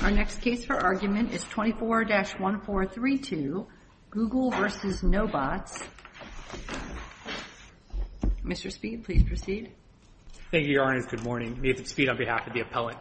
Our next case for argument is 24-1432, Google v. Nobots. Mr. Speed, please proceed. Thank you, Your Honor. Good morning. Nathan Speed on behalf of the appellant,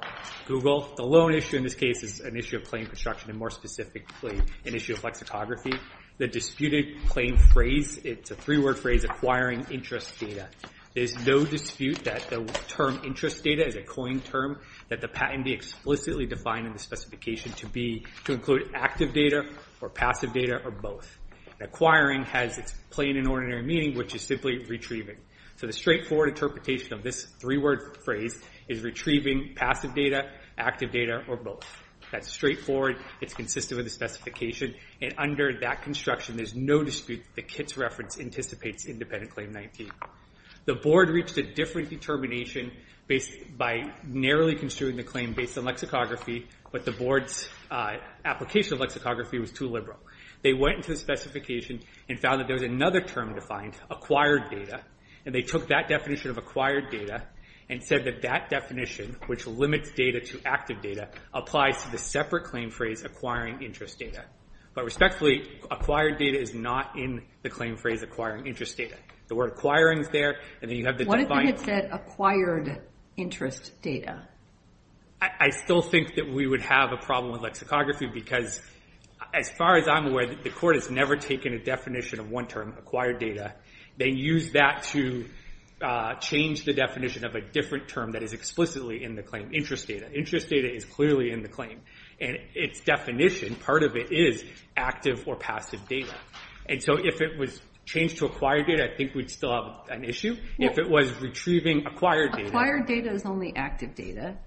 Google. The lone issue in this case is an issue of claim construction and more specifically an issue of lexicography. The disputed claim phrase, it's a three-word phrase, acquiring interest data. There's no dispute that the term interest data is a coined term that the patentee explicitly defined in the specification to include active data or passive data or both. Acquiring has its plain and ordinary meaning, which is simply retrieving. The straightforward interpretation of this three-word phrase is retrieving passive data, active data, or both. That's straightforward. It's consistent with the specification. Under that construction, there's no dispute that Kitt's reference anticipates independent claim 19. The board reached a different determination by narrowly construing the claim based on lexicography, but the board's application of lexicography was too liberal. They went into the specification and found that there was another term defined, acquired data, and they took that definition of acquired data and said that that definition, which limits data to active data, applies to the separate claim phrase acquiring interest data. But respectfully, acquired data is not in the claim phrase acquiring interest data. The word acquiring is there, and then you have the defined— What if they had said acquired interest data? I still think that we would have a problem with lexicography because as far as I'm aware, the court has never taken a definition of one term, acquired data. They used that to change the definition of a different term that is explicitly in the claim, interest data. Interest data is clearly in the claim, and its definition, part of it, is active or passive data. If it was changed to acquired data, I think we'd still have an issue. If it was retrieving acquired data— Acquired data is only active data.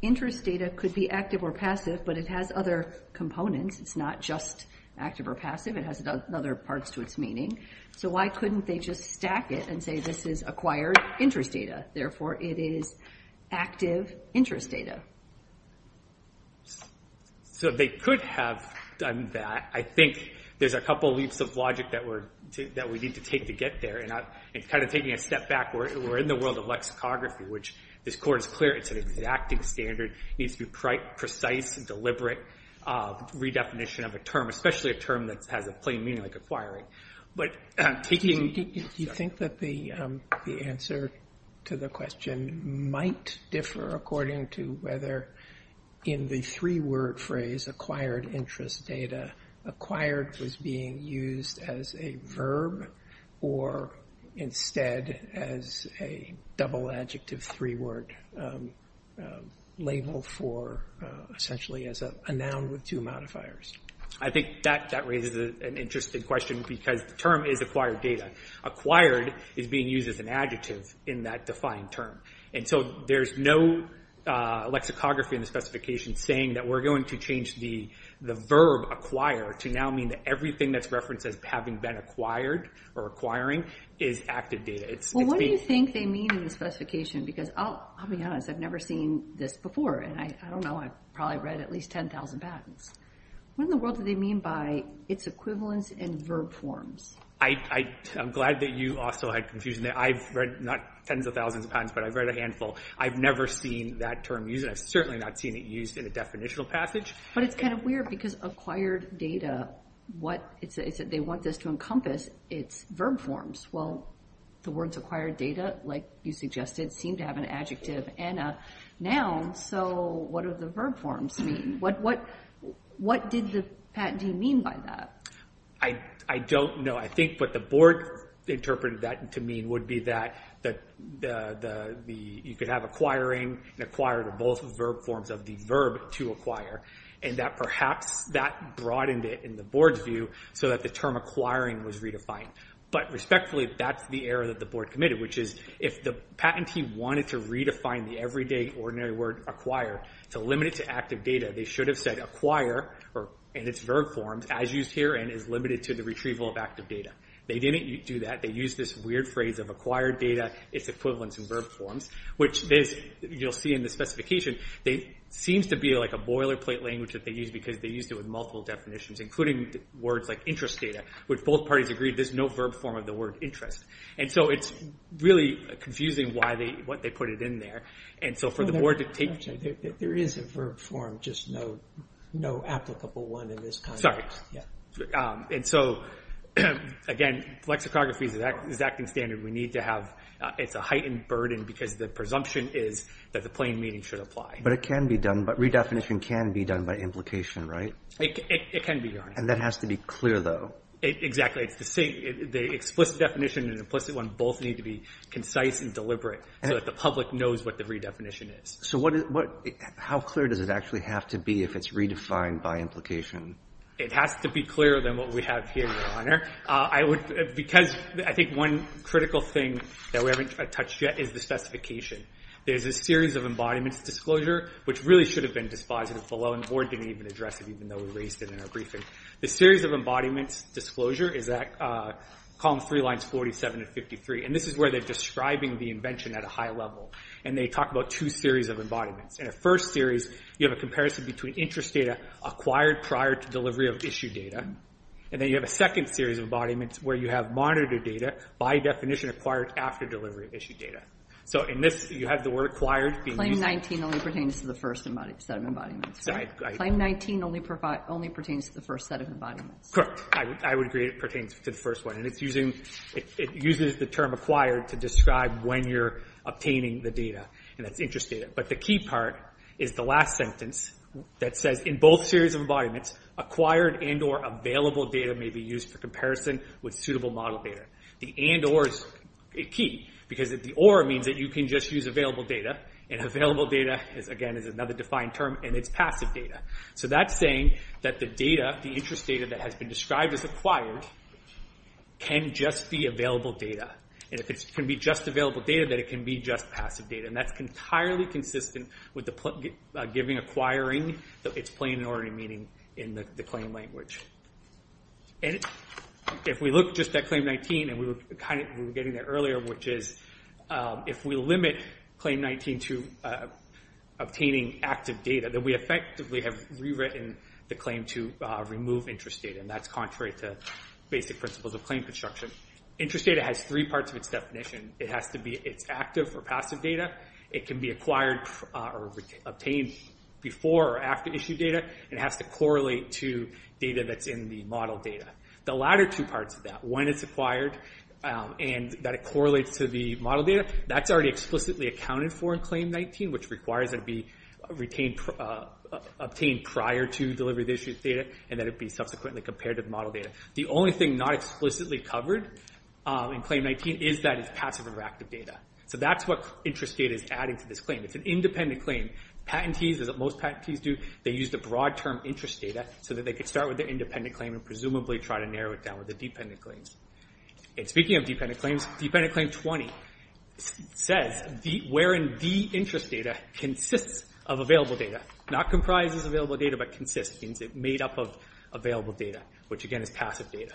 Interest data could be active or passive, but it has other components. It's not just active or passive. It has other parts to its meaning. So why couldn't they just stack it and say this is acquired interest data. Therefore, it is active interest data. So they could have done that. I think there's a couple leaps of logic that we need to take to get there. And kind of taking a step back, we're in the world of lexicography, which this court is clear it's an exacting standard. It needs to be precise and deliberate redefinition of a term, especially a term that has a plain meaning like acquiring. Do you think that the answer to the question might differ according to whether in the three-word phrase acquired interest data, acquired was being used as a verb or instead as a double-adjective three-word label for essentially as a noun with two modifiers? I think that raises an interesting question because the term is acquired data. Acquired is being used as an adjective in that defined term. There's no lexicography in the specification saying that we're going to change the verb acquire to now mean that everything that's referenced as having been acquired or acquiring is active data. What do you think they mean in the specification? Because I'll be honest, I've never seen this before. I don't know, I've probably read at least 10,000 patents. What in the world do they mean by its equivalence in verb forms? I'm glad that you also had confusion there. I've read not tens of thousands of patents, but I've read a handful. I've never seen that term used. I've certainly not seen it used in a definitional passage. But it's kind of weird because acquired data, they want this to encompass its verb forms. Well, the words acquired data, like you suggested, seem to have an adjective and a noun, so what do the verb forms mean? What did the patent do you mean by that? I don't know. I think what the board interpreted that to mean would be that you could have acquiring and acquired are both verb forms of the verb to acquire, and that perhaps that broadened it in the board's view so that the term acquiring was redefined. But respectfully, that's the error that the board committed, which is if the patentee wanted to redefine the everyday ordinary word acquire to limit it to active data, they should have said acquire, and it's verb forms, as used here and is limited to the retrieval of active data. They didn't do that. They used this weird phrase of acquired data, its equivalence in verb forms, which you'll see in the specification. It seems to be like a boilerplate language that they used because they used it with multiple definitions, including words like interest data, which both parties agreed there's no verb form of the word interest. So it's really confusing what they put in there. There is a verb form, just no applicable one in this context. Again, lexicography is an acting standard. It's a heightened burden because the presumption is that the plain meaning should apply. But redefinition can be done by implication, right? It can be done. And that has to be clear, though. Exactly. The explicit definition and implicit one both need to be concise and deliberate so that the public knows what the redefinition is. So how clear does it actually have to be if it's redefined by implication? It has to be clearer than what we have here, Your Honor. Because I think one critical thing that we haven't touched yet is the specification. There's a series of embodiments disclosure, which really should have been dispositive below, and the board didn't even address it, even though we raised it in our briefing. The series of embodiments disclosure is at Columns 3, Lines 47 and 53. And this is where they're describing the invention at a high level. And they talk about two series of embodiments. In the first series, you have a comparison between interest data acquired prior to delivery of issued data. And then you have a second series of embodiments where you have monitored data by definition acquired after delivery of issued data. So in this, you have the word acquired being used. Claim 19 only pertains to the first set of embodiments, right? Claim 19 only pertains to the first set of embodiments. Correct. I would agree it pertains to the first one. And it uses the term acquired to describe when you're obtaining the data, and that's interest data. But the key part is the last sentence that says, in both series of embodiments, acquired and or available data may be used for comparison with suitable model data. The and or is key because the or means that you can just use available data, and available data, again, is another defined term, and it's passive data. So that's saying that the data, the interest data that has been described as acquired, can just be available data. And if it can be just available data, then it can be just passive data. And that's entirely consistent with giving acquiring its plain and ordinary meaning in the claim language. And if we look just at Claim 19, and we were getting there earlier, which is if we limit Claim 19 to obtaining active data, then we effectively have rewritten the claim to remove interest data. And that's contrary to basic principles of claim construction. Interest data has three parts of its definition. It has to be, it's active or passive data. It can be acquired or obtained before or after issue data. It has to correlate to data that's in the model data. The latter two parts of that, when it's acquired and that it correlates to the model data, that's already explicitly accounted for in Claim 19, which requires that it be obtained prior to delivery of the issued data, and that it be subsequently compared to the model data. The only thing not explicitly covered in Claim 19 is that it's passive or active data. So that's what interest data is adding to this claim. It's an independent claim. Patentees, as most patentees do, they use the broad term interest data so that they can start with their independent claim and presumably try to narrow it down with the dependent claims. And speaking of dependent claims, Dependent Claim 20 says wherein the interest data consists of available data, not comprises available data, but consists, means it's made up of available data, which, again, is passive data.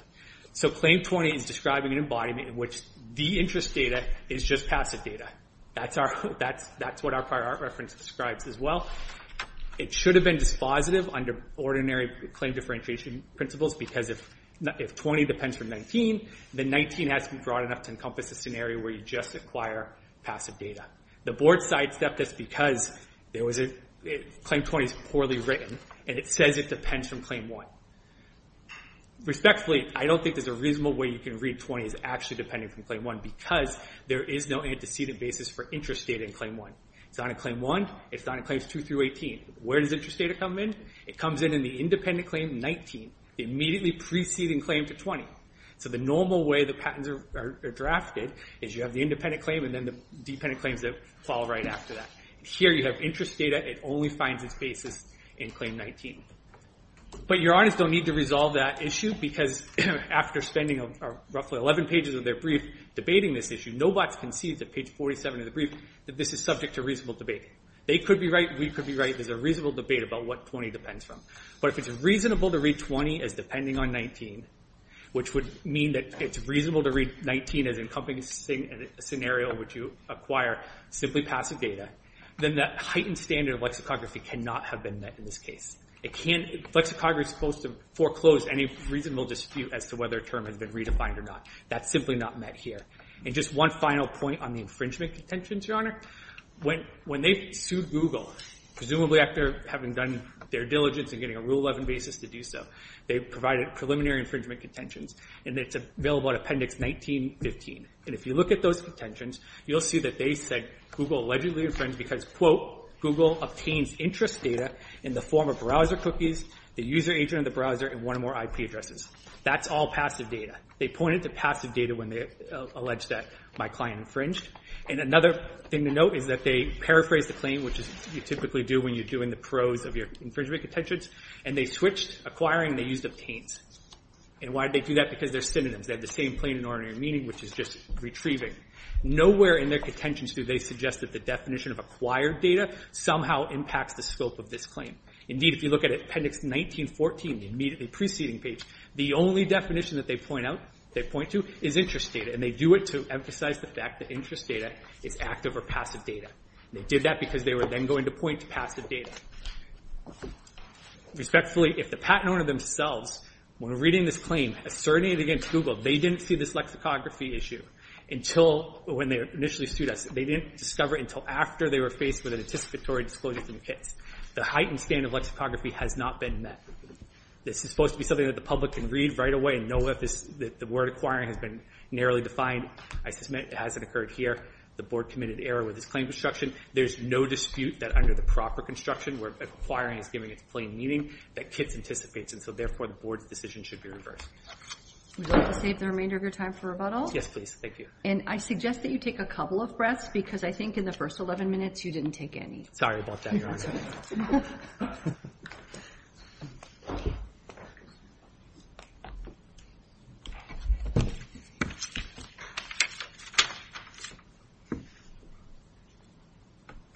So Claim 20 is describing an embodiment in which the interest data is just passive data. That's what our prior art reference describes as well. It should have been dispositive under ordinary claim differentiation principles because if 20 depends from 19, then 19 has to be broad enough to encompass a scenario where you just acquire passive data. The board sidestepped this because Claim 20 is poorly written and it says it depends from Claim 1. Respectfully, I don't think there's a reasonable way you can read 20 as actually depending from Claim 1 because there is no antecedent basis for interest data in Claim 1. It's not in Claim 1. It's not in Claims 2 through 18. Where does interest data come in? It comes in in the independent claim 19, the immediately preceding claim to 20. So the normal way the patents are drafted is you have the independent claim and then the dependent claims that follow right after that. Here you have interest data. It only finds its basis in Claim 19. But your audits don't need to resolve that issue because after spending roughly 11 pages of their brief debating this issue, no bots can see that page 47 of the brief that this is subject to reasonable debate. They could be right. We could be right. There's a reasonable debate about what 20 depends from. But if it's reasonable to read 20 as depending on 19, which would mean that it's reasonable to read 19 as encompassing a scenario which you acquire simply passive data, then that heightened standard of lexicography cannot have been met in this case. It can't. Lexicography is supposed to foreclose any reasonable dispute as to whether a term has been redefined or not. That's simply not met here. And just one final point on the infringement contentions, Your Honor. When they sued Google, presumably after having done their diligence and getting a Rule 11 basis to do so, they provided preliminary infringement contentions. And it's available in Appendix 19-15. And if you look at those contentions, you'll see that they said Google allegedly infringed because, quote, Google obtains interest data in the form of browser cookies, the user agent of the browser, and one or more IP addresses. That's all passive data. They pointed to passive data when they alleged that my client infringed. And another thing to note is that they paraphrased the claim, which you typically do when you're doing the prose of your infringement contentions, and they switched acquiring and they used obtains. And why did they do that? Because they're synonyms. They have the same plain and ordinary meaning, which is just retrieving. Nowhere in their contentions do they suggest that the definition of acquired data somehow impacts the scope of this claim. Indeed, if you look at Appendix 19-14, the immediately preceding page, the only definition that they point to is interest data, and they do it to emphasize the fact that interest data is active or passive data. They did that because they were then going to point to passive data. Respectfully, if the patent owner themselves, when reading this claim, asserting it against Google, they didn't see this lexicography issue when they initially sued us. They didn't discover it until after they were faced with an anticipatory disclosure from KITS. The heightened standard of lexicography has not been met. This is supposed to be something that the public can read right away and know that the word acquiring has been narrowly defined. I submit it hasn't occurred here. The Board committed error with this claim construction. There's no dispute that under the proper construction, where acquiring is giving its plain meaning, that KITS anticipates, and so therefore the Board's decision should be reversed. Would you like to save the remainder of your time for rebuttal? Yes, please. Thank you. And I suggest that you take a couple of breaths because I think in the first 11 minutes you didn't take any. Sorry about that, Your Honor.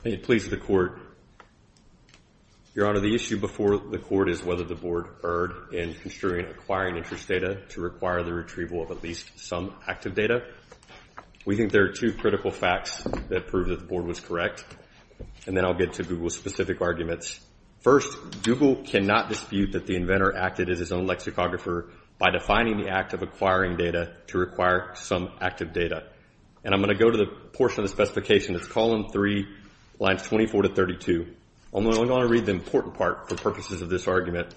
May it please the Court. Your Honor, the issue before the Court is whether the Board erred in construing acquiring interest data to require the retrieval of at least some active data. We think there are two critical facts that prove that the Board was correct, and then I'll get to Google's specific arguments. First, Google cannot dispute that the inventor acted as his own lexicographer by defining the act of acquiring data to require some active data. And I'm going to go to the portion of the specification that's column 3, lines 24 to 32. I'm only going to read the important part for purposes of this argument.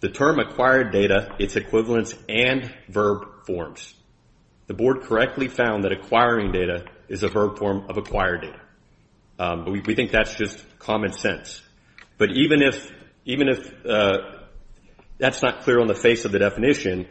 The term acquired data, its equivalents, and verb forms. The Board correctly found that acquiring data is a verb form of acquired data. We think that's just common sense. But even if that's not clear on the face of the definition,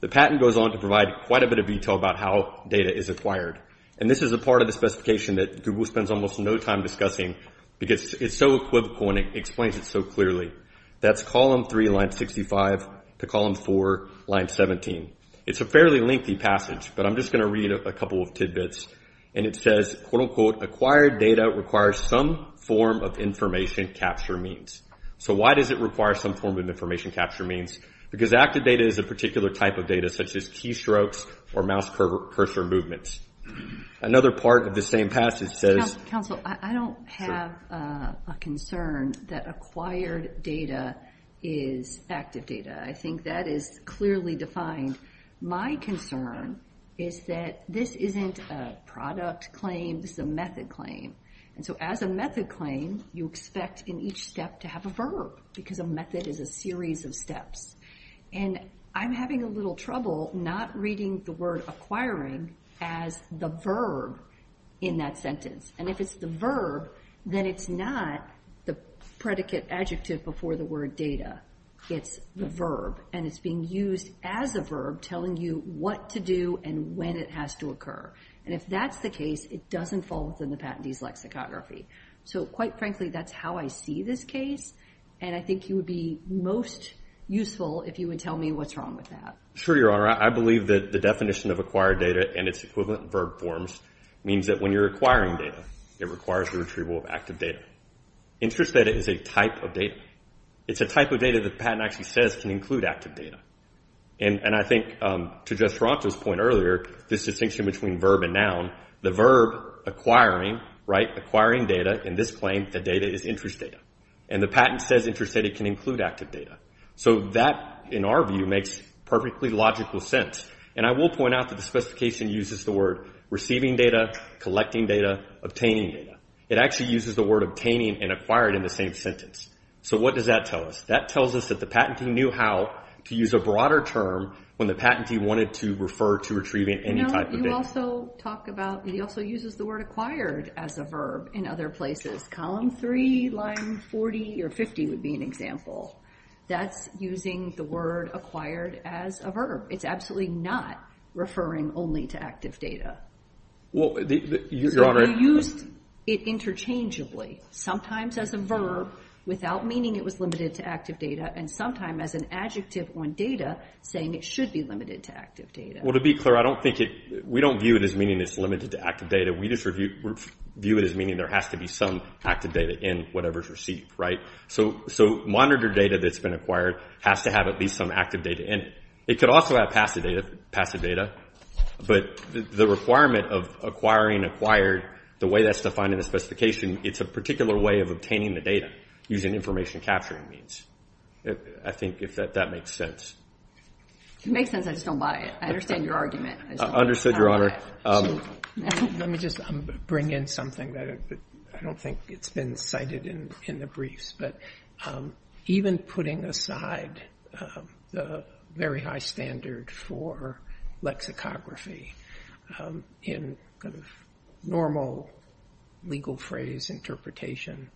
the patent goes on to provide quite a bit of detail about how data is acquired. And this is a part of the specification that Google spends almost no time discussing because it's so equivocal and it explains it so clearly. That's column 3, line 65, to column 4, line 17. It's a fairly lengthy passage, but I'm just going to read a couple of tidbits. And it says, quote, unquote, acquired data requires some form of information capture means. So why does it require some form of information capture means? Because active data is a particular type of data, such as keystrokes or mouse cursor movements. Another part of the same passage says- is active data. I think that is clearly defined. My concern is that this isn't a product claim. This is a method claim. And so as a method claim, you expect in each step to have a verb because a method is a series of steps. And I'm having a little trouble not reading the word acquiring as the verb in that sentence. And if it's the verb, then it's not the predicate adjective before the word data. It's the verb. And it's being used as a verb telling you what to do and when it has to occur. And if that's the case, it doesn't fall within the patentee's lexicography. So quite frankly, that's how I see this case. And I think you would be most useful if you would tell me what's wrong with that. Sure, Your Honor. I believe that the definition of acquired data and its equivalent verb forms means that when you're acquiring data, it requires the retrieval of active data. Interest data is a type of data. It's a type of data that the patent actually says can include active data. And I think, to Jeff Toronto's point earlier, this distinction between verb and noun, the verb acquiring, right, acquiring data in this claim, the data is interest data. And the patent says interest data can include active data. So that, in our view, makes perfectly logical sense. And I will point out that the specification uses the word receiving data, collecting data, obtaining data. It actually uses the word obtaining and acquired in the same sentence. So what does that tell us? That tells us that the patentee knew how to use a broader term when the patentee wanted to refer to retrieving any type of data. No, you also talk about, he also uses the word acquired as a verb in other places. Column 3, line 40 or 50 would be an example. That's using the word acquired as a verb. It's absolutely not referring only to active data. You used it interchangeably, sometimes as a verb without meaning it was limited to active data, and sometimes as an adjective on data saying it should be limited to active data. Well, to be clear, I don't think it, we don't view it as meaning it's limited to active data. We just view it as meaning there has to be some active data in whatever's received, right? So monitor data that's been acquired has to have at least some active data in it. It could also have passive data, but the requirement of acquiring acquired, the way that's defined in the specification, it's a particular way of obtaining the data using information capturing means. I think if that makes sense. It makes sense. I just don't buy it. I understand your argument. Understood, Your Honor. Let me just bring in something that I don't think it's been cited in the briefs, but even putting aside the very high standard for lexicography in kind of normal legal phrase interpretation,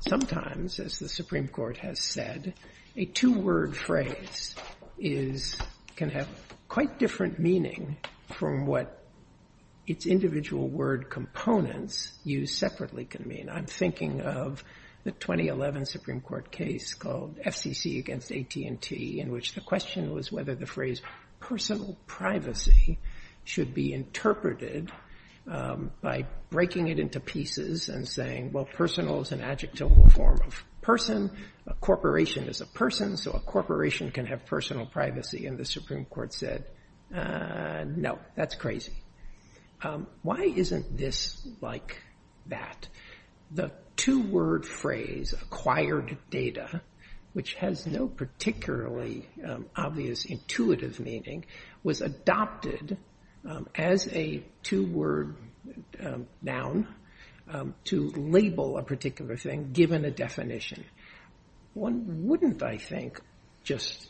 sometimes, as the Supreme Court has said, a two-word phrase can have quite different meaning from what its individual word components used separately can mean. I'm thinking of the 2011 Supreme Court case called FCC against AT&T, in which the question was whether the phrase personal privacy should be interpreted by breaking it into pieces and saying, well, personal is an adjectival form of person. A corporation is a person, so a corporation can have personal privacy. And the Supreme Court said, no, that's crazy. Why isn't this like that? The two-word phrase acquired data, which has no particularly obvious intuitive meaning, was adopted as a two-word noun to label a particular thing given a definition. One wouldn't, I think, just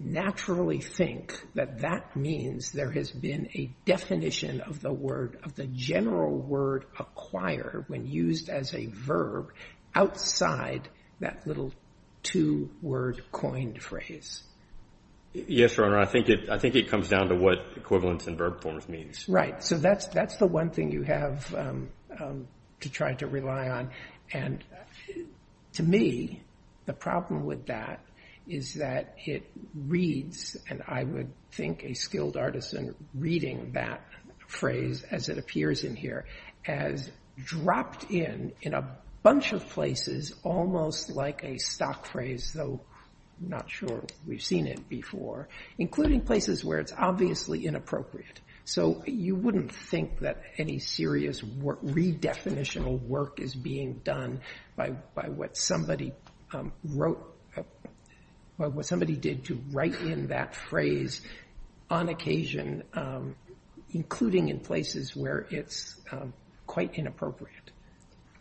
naturally think that that means there has been a definition of the word, of the general word acquired when used as a verb outside that little two-word coined phrase. Yes, Your Honor. I think it comes down to what equivalence in verb forms means. Right. So that's the one thing you have to try to rely on. And to me, the problem with that is that it reads, and I would think a skilled artisan reading that phrase as it appears in here, as dropped in in a bunch of places almost like a stock phrase, though I'm not sure we've seen it before, including places where it's obviously inappropriate. So you wouldn't think that any serious redefinitional work is being done by what somebody wrote, by what somebody did to write in that phrase on occasion, including in places where it's quite inappropriate.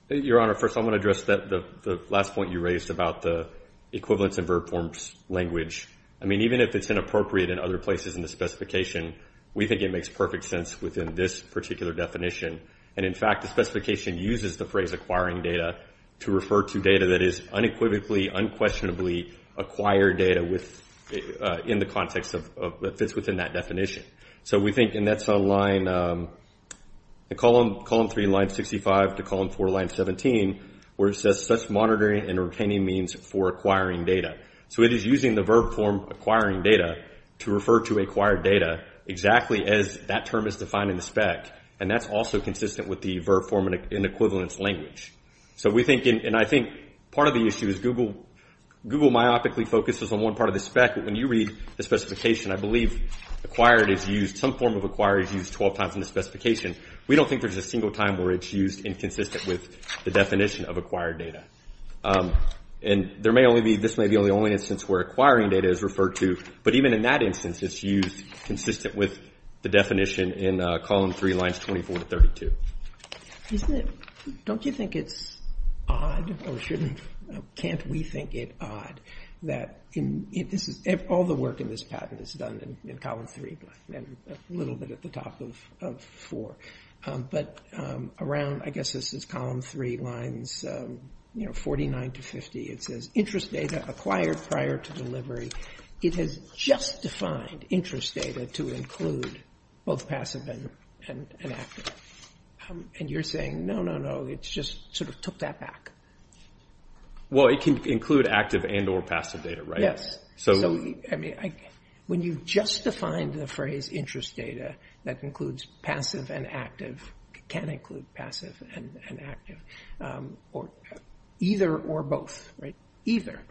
Your Honor, first I want to address the last point you raised about the equivalence in verb forms language. I mean, even if it's inappropriate in other places in the specification, we think it makes perfect sense within this particular definition. And, in fact, the specification uses the phrase acquiring data to refer to data that is unequivocally, unquestionably acquired data in the context that fits within that definition. So we think, and that's on line, column 3, line 65 to column 4, line 17, where it says such monitoring and retaining means for acquiring data. So it is using the verb form acquiring data to refer to acquired data exactly as that term is defined in the spec, and that's also consistent with the verb form in equivalence language. So we think, and I think part of the issue is Google myopically focuses on one part of the spec, but when you read the specification, I believe acquired is used, some form of acquired is used 12 times in the specification. We don't think there's a single time where it's used inconsistent with the definition of acquired data. And there may only be, this may be the only instance where acquiring data is referred to, but even in that instance it's used consistent with the definition in column 3, lines 24 to 32. Isn't it, don't you think it's odd, or shouldn't, can't we think it odd, that all the work in this patent is done in column 3, and a little bit at the top of 4. But around, I guess this is column 3, lines 49 to 50, it says, interest data acquired prior to delivery. It has just defined interest data to include both passive and active. And you're saying, no, no, no, it's just sort of took that back. Well, it can include active and or passive data, right? Yes. So, I mean, when you've just defined the phrase interest data, that includes passive and active, can include passive and active, or either or both, right, either.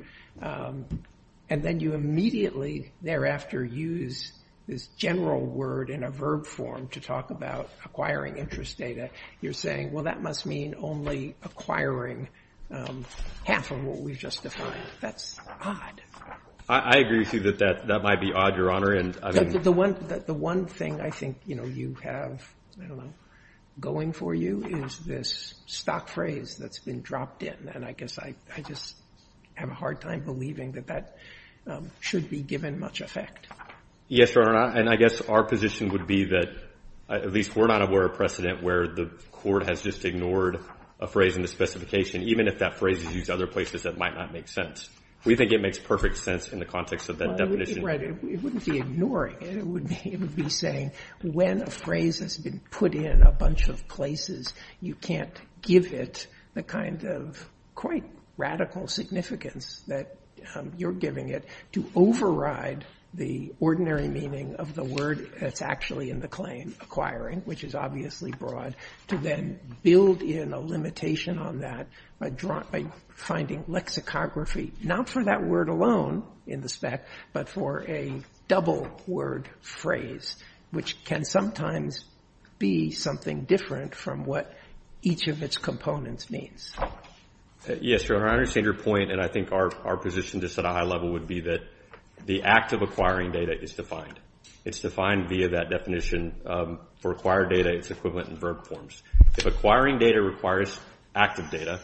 And then you immediately thereafter use this general word in a verb form to talk about acquiring interest data. You're saying, well, that must mean only acquiring half of what we've just defined. That's odd. I agree with you that that might be odd, Your Honor. The one thing I think you have, I don't know, going for you is this stock phrase that's been dropped in. And I guess I just have a hard time believing that that should be given much effect. Yes, Your Honor. And I guess our position would be that at least we're not aware of precedent where the court has just ignored a phrase in the specification, even if that phrase is used other places that might not make sense. We think it makes perfect sense in the context of that definition. Right. It wouldn't be ignoring it. It would be saying when a phrase has been put in a bunch of places, you can't give it the kind of quite radical significance that you're giving it to override the ordinary meaning of the word that's actually in the claim, acquiring, which is obviously broad, to then build in a limitation on that by finding lexicography, not for that word alone in the spec, but for a double word phrase, which can sometimes be something different from what each of its components means. Yes, Your Honor. I understand your point. And I think our position just at a high level would be that the act of acquiring data is defined. It's defined via that definition. For acquired data, it's equivalent in verb forms. If acquiring data requires active data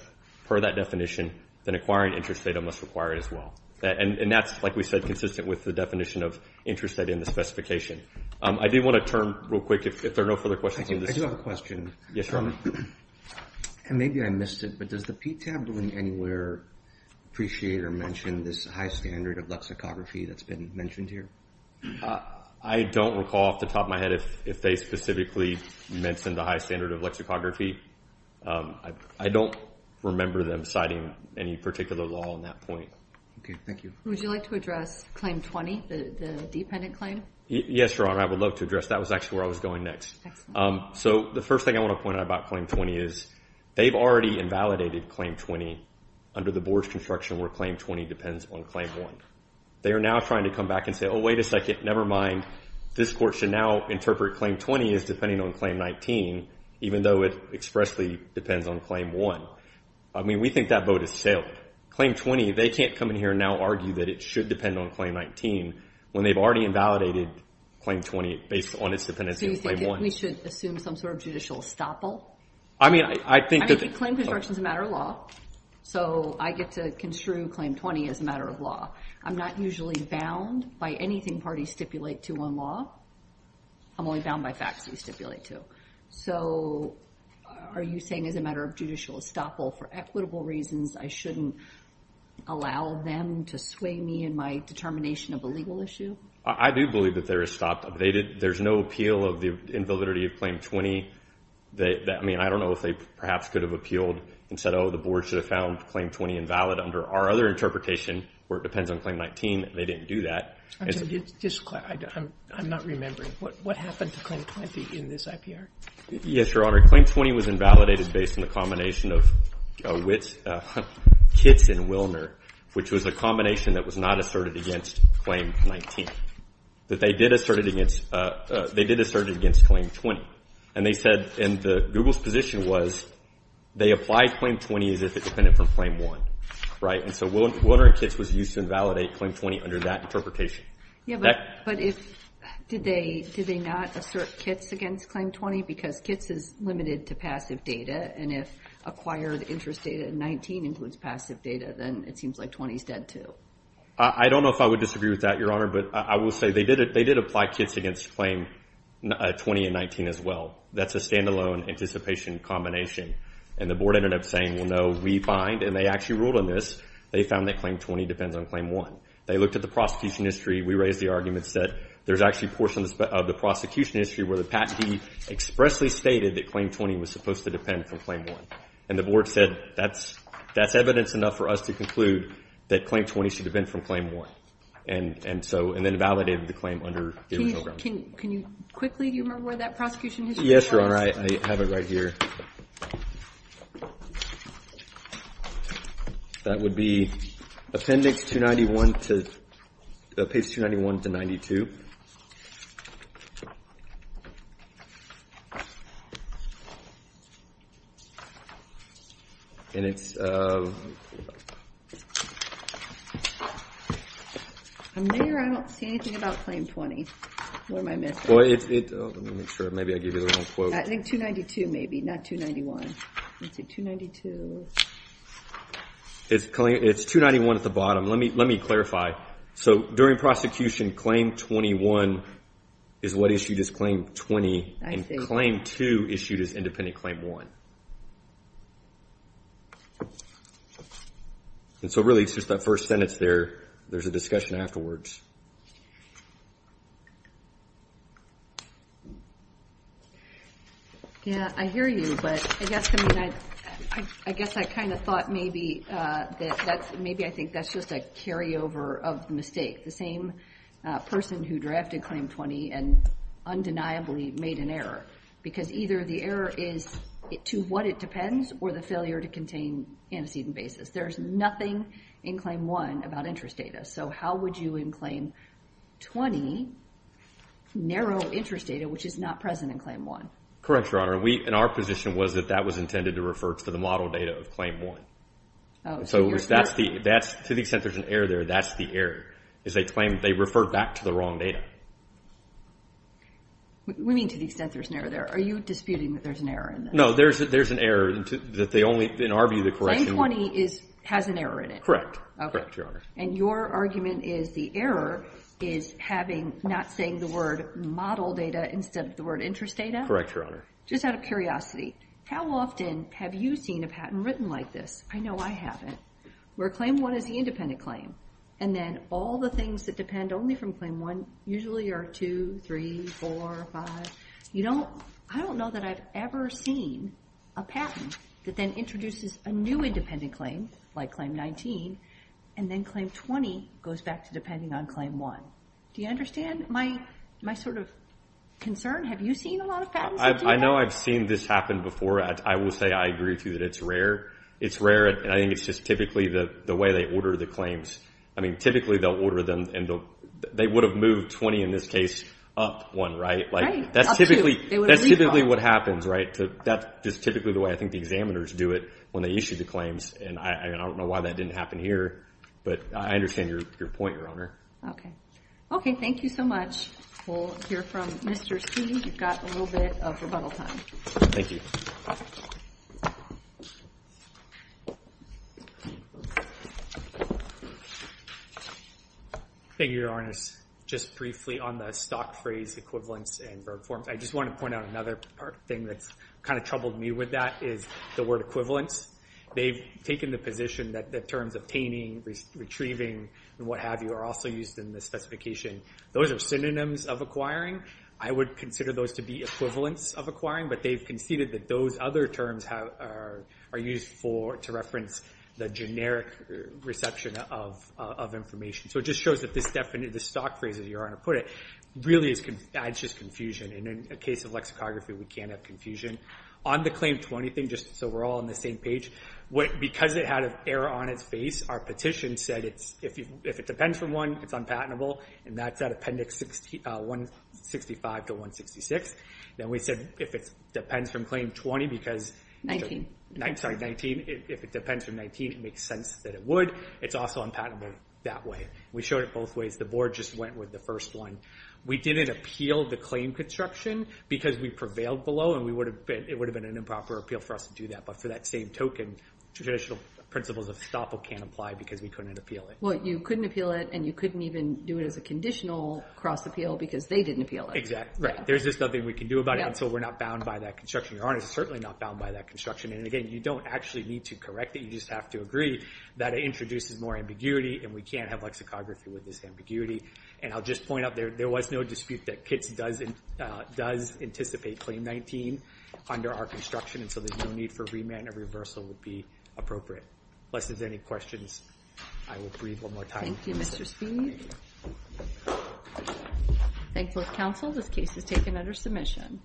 per that definition, then acquiring interest data must require it as well. And that's, like we said, consistent with the definition of interest data in the specification. I do want to turn real quick if there are no further questions. I do have a question. Yes, Your Honor. And maybe I missed it, but does the PTAB ruling anywhere appreciate or mention this high standard of lexicography that's been mentioned here? I don't recall off the top of my head if they specifically mentioned the high standard of lexicography. I don't remember them citing any particular law on that point. Okay. Thank you. Would you like to address Claim 20, the dependent claim? Yes, Your Honor. I would love to address that. That was actually where I was going next. Excellent. So the first thing I want to point out about Claim 20 is they've already invalidated Claim 20 under the board's construction where Claim 20 depends on Claim 1. They are now trying to come back and say, oh, wait a second, never mind. This court should now interpret Claim 20 as depending on Claim 19, even though it expressly depends on Claim 1. I mean, we think that vote is sailed. Claim 20, they can't come in here and now argue that it should depend on Claim 19 when they've already invalidated Claim 20 based on its dependency on Claim 1. So you think that we should assume some sort of judicial estoppel? I mean, I think that the— I mean, claim construction is a matter of law. So I get to construe Claim 20 as a matter of law. I'm not usually bound by anything parties stipulate to on law. I'm only bound by facts they stipulate to. So are you saying as a matter of judicial estoppel, for equitable reasons, I shouldn't allow them to sway me in my determination of a legal issue? I do believe that they're estoppel. There's no appeal of the invalidity of Claim 20. I mean, I don't know if they perhaps could have appealed and said, oh, the board should have found Claim 20 invalid under our other interpretation where it depends on Claim 19. They didn't do that. I'm not remembering. What happened to Claim 20 in this IPR? Yes, Your Honor. Claim 20 was invalidated based on the combination of Kitts and Willner, which was a combination that was not asserted against Claim 19. But they did assert it against Claim 20. And they said—and Google's position was they applied Claim 20 as if it depended from Claim 1, right? And so Willner and Kitts was used to invalidate Claim 20 under that interpretation. Yeah, but did they not assert Kitts against Claim 20? Because Kitts is limited to passive data, and if acquired interest data in 19 includes passive data, then it seems like 20 is dead too. I don't know if I would disagree with that, Your Honor, but I will say they did apply Kitts against Claim 20 and 19 as well. That's a standalone anticipation combination. And the board ended up saying, well, no, we bind. And they actually ruled on this. They found that Claim 20 depends on Claim 1. They looked at the prosecution history. We raised the arguments that there's actually portions of the prosecution history where the patentee expressly stated that Claim 20 was supposed to depend from Claim 1. And the board said that's evidence enough for us to conclude that Claim 20 should have been from Claim 1. And so—and then validated the claim under the program. Can you quickly—do you remember where that prosecution history is? Yes, Your Honor. I have it right here. That would be Appendix 291 to—Page 291 to 92. And it's— I'm there. I don't see anything about Claim 20. Where am I missing? Well, it—let me make sure. Maybe I gave you the wrong quote. I think 292 maybe, not 291. Let's see, 292. It's 291 at the bottom. Let me clarify. So during prosecution, Claim 21 is what issued as Claim 20. I see. And Claim 2 issued as independent Claim 1. And so really, it's just that first sentence there. There's a discussion afterwards. Yeah, I hear you. But I guess, I mean, I guess I kind of thought maybe that's— maybe I think that's just a carryover of the mistake. The same person who drafted Claim 20 and undeniably made an error. Because either the error is to what it depends or the failure to contain antecedent basis. There's nothing in Claim 1 about interest data. So how would you, in Claim 1, narrow interest data, which is not present in Claim 1? Correct, Your Honor. And our position was that that was intended to refer to the model data of Claim 1. Oh, so you're— So that's the—to the extent there's an error there, that's the error, is they claim they referred back to the wrong data. We mean to the extent there's an error there. Are you disputing that there's an error in that? No, there's an error that they only, in our view, the correction— Claim 20 has an error in it. Correct. Okay. Correct, Your Honor. And your argument is the error is having— not saying the word model data instead of the word interest data? Correct, Your Honor. Just out of curiosity, how often have you seen a patent written like this? I know I haven't. Where Claim 1 is the independent claim and then all the things that depend only from Claim 1 usually are 2, 3, 4, 5. You don't—I don't know that I've ever seen a patent that then introduces a new independent claim, like Claim 19, and then Claim 20 goes back to depending on Claim 1. Do you understand my sort of concern? Have you seen a lot of patents that do that? I know I've seen this happen before. I will say I agree with you that it's rare. It's rare, and I think it's just typically the way they order the claims. I mean, typically they'll order them, and they would have moved 20 in this case up one, right? Right, up 2. That's typically what happens, right? That's just typically the way I think the examiners do it when they issue the claims, and I don't know why that didn't happen here, but I understand your point, Your Honor. Okay. Okay, thank you so much. We'll hear from Mr. C. You've got a little bit of rebuttal time. Thank you. Thank you, Your Honor. Just briefly on the stock phrase equivalence and verb forms, I just want to point out another thing that's kind of troubled me with that is the word equivalence. They've taken the position that the terms obtaining, retrieving, and what have you are also used in the specification. Those are synonyms of acquiring. I would consider those to be equivalents of acquiring, but they've conceded that those other terms are used to reference the generic reception of information. So it just shows that this stock phrase, as Your Honor put it, really adds just confusion, and in the case of lexicography, we can't have confusion. On the Claim 20 thing, just so we're all on the same page, because it had an error on its face, our petition said if it depends from one, it's unpatentable, and that's at Appendix 165 to 166. Then we said if it depends from Claim 19, it makes sense that it would. It's also unpatentable that way. We showed it both ways. The Board just went with the first one. We didn't appeal the claim construction because we prevailed below and it would have been an improper appeal for us to do that. But for that same token, traditional principles of estoppel can't apply because we couldn't appeal it. Well, you couldn't appeal it, and you couldn't even do it as a conditional cross-appeal because they didn't appeal it. Exactly. There's just nothing we can do about it, and so we're not bound by that construction. Your Honor is certainly not bound by that construction. Again, you don't actually need to correct it. You just have to agree that it introduces more ambiguity, and we can't have lexicography with this ambiguity. I'll just point out there was no dispute that KITS does anticipate Claim 19 under our construction, and so there's no need for remand or reversal would be appropriate. Unless there's any questions, I will breathe one more time. Thank you, Mr. Speed. Thank you, counsel. This case is taken under submission.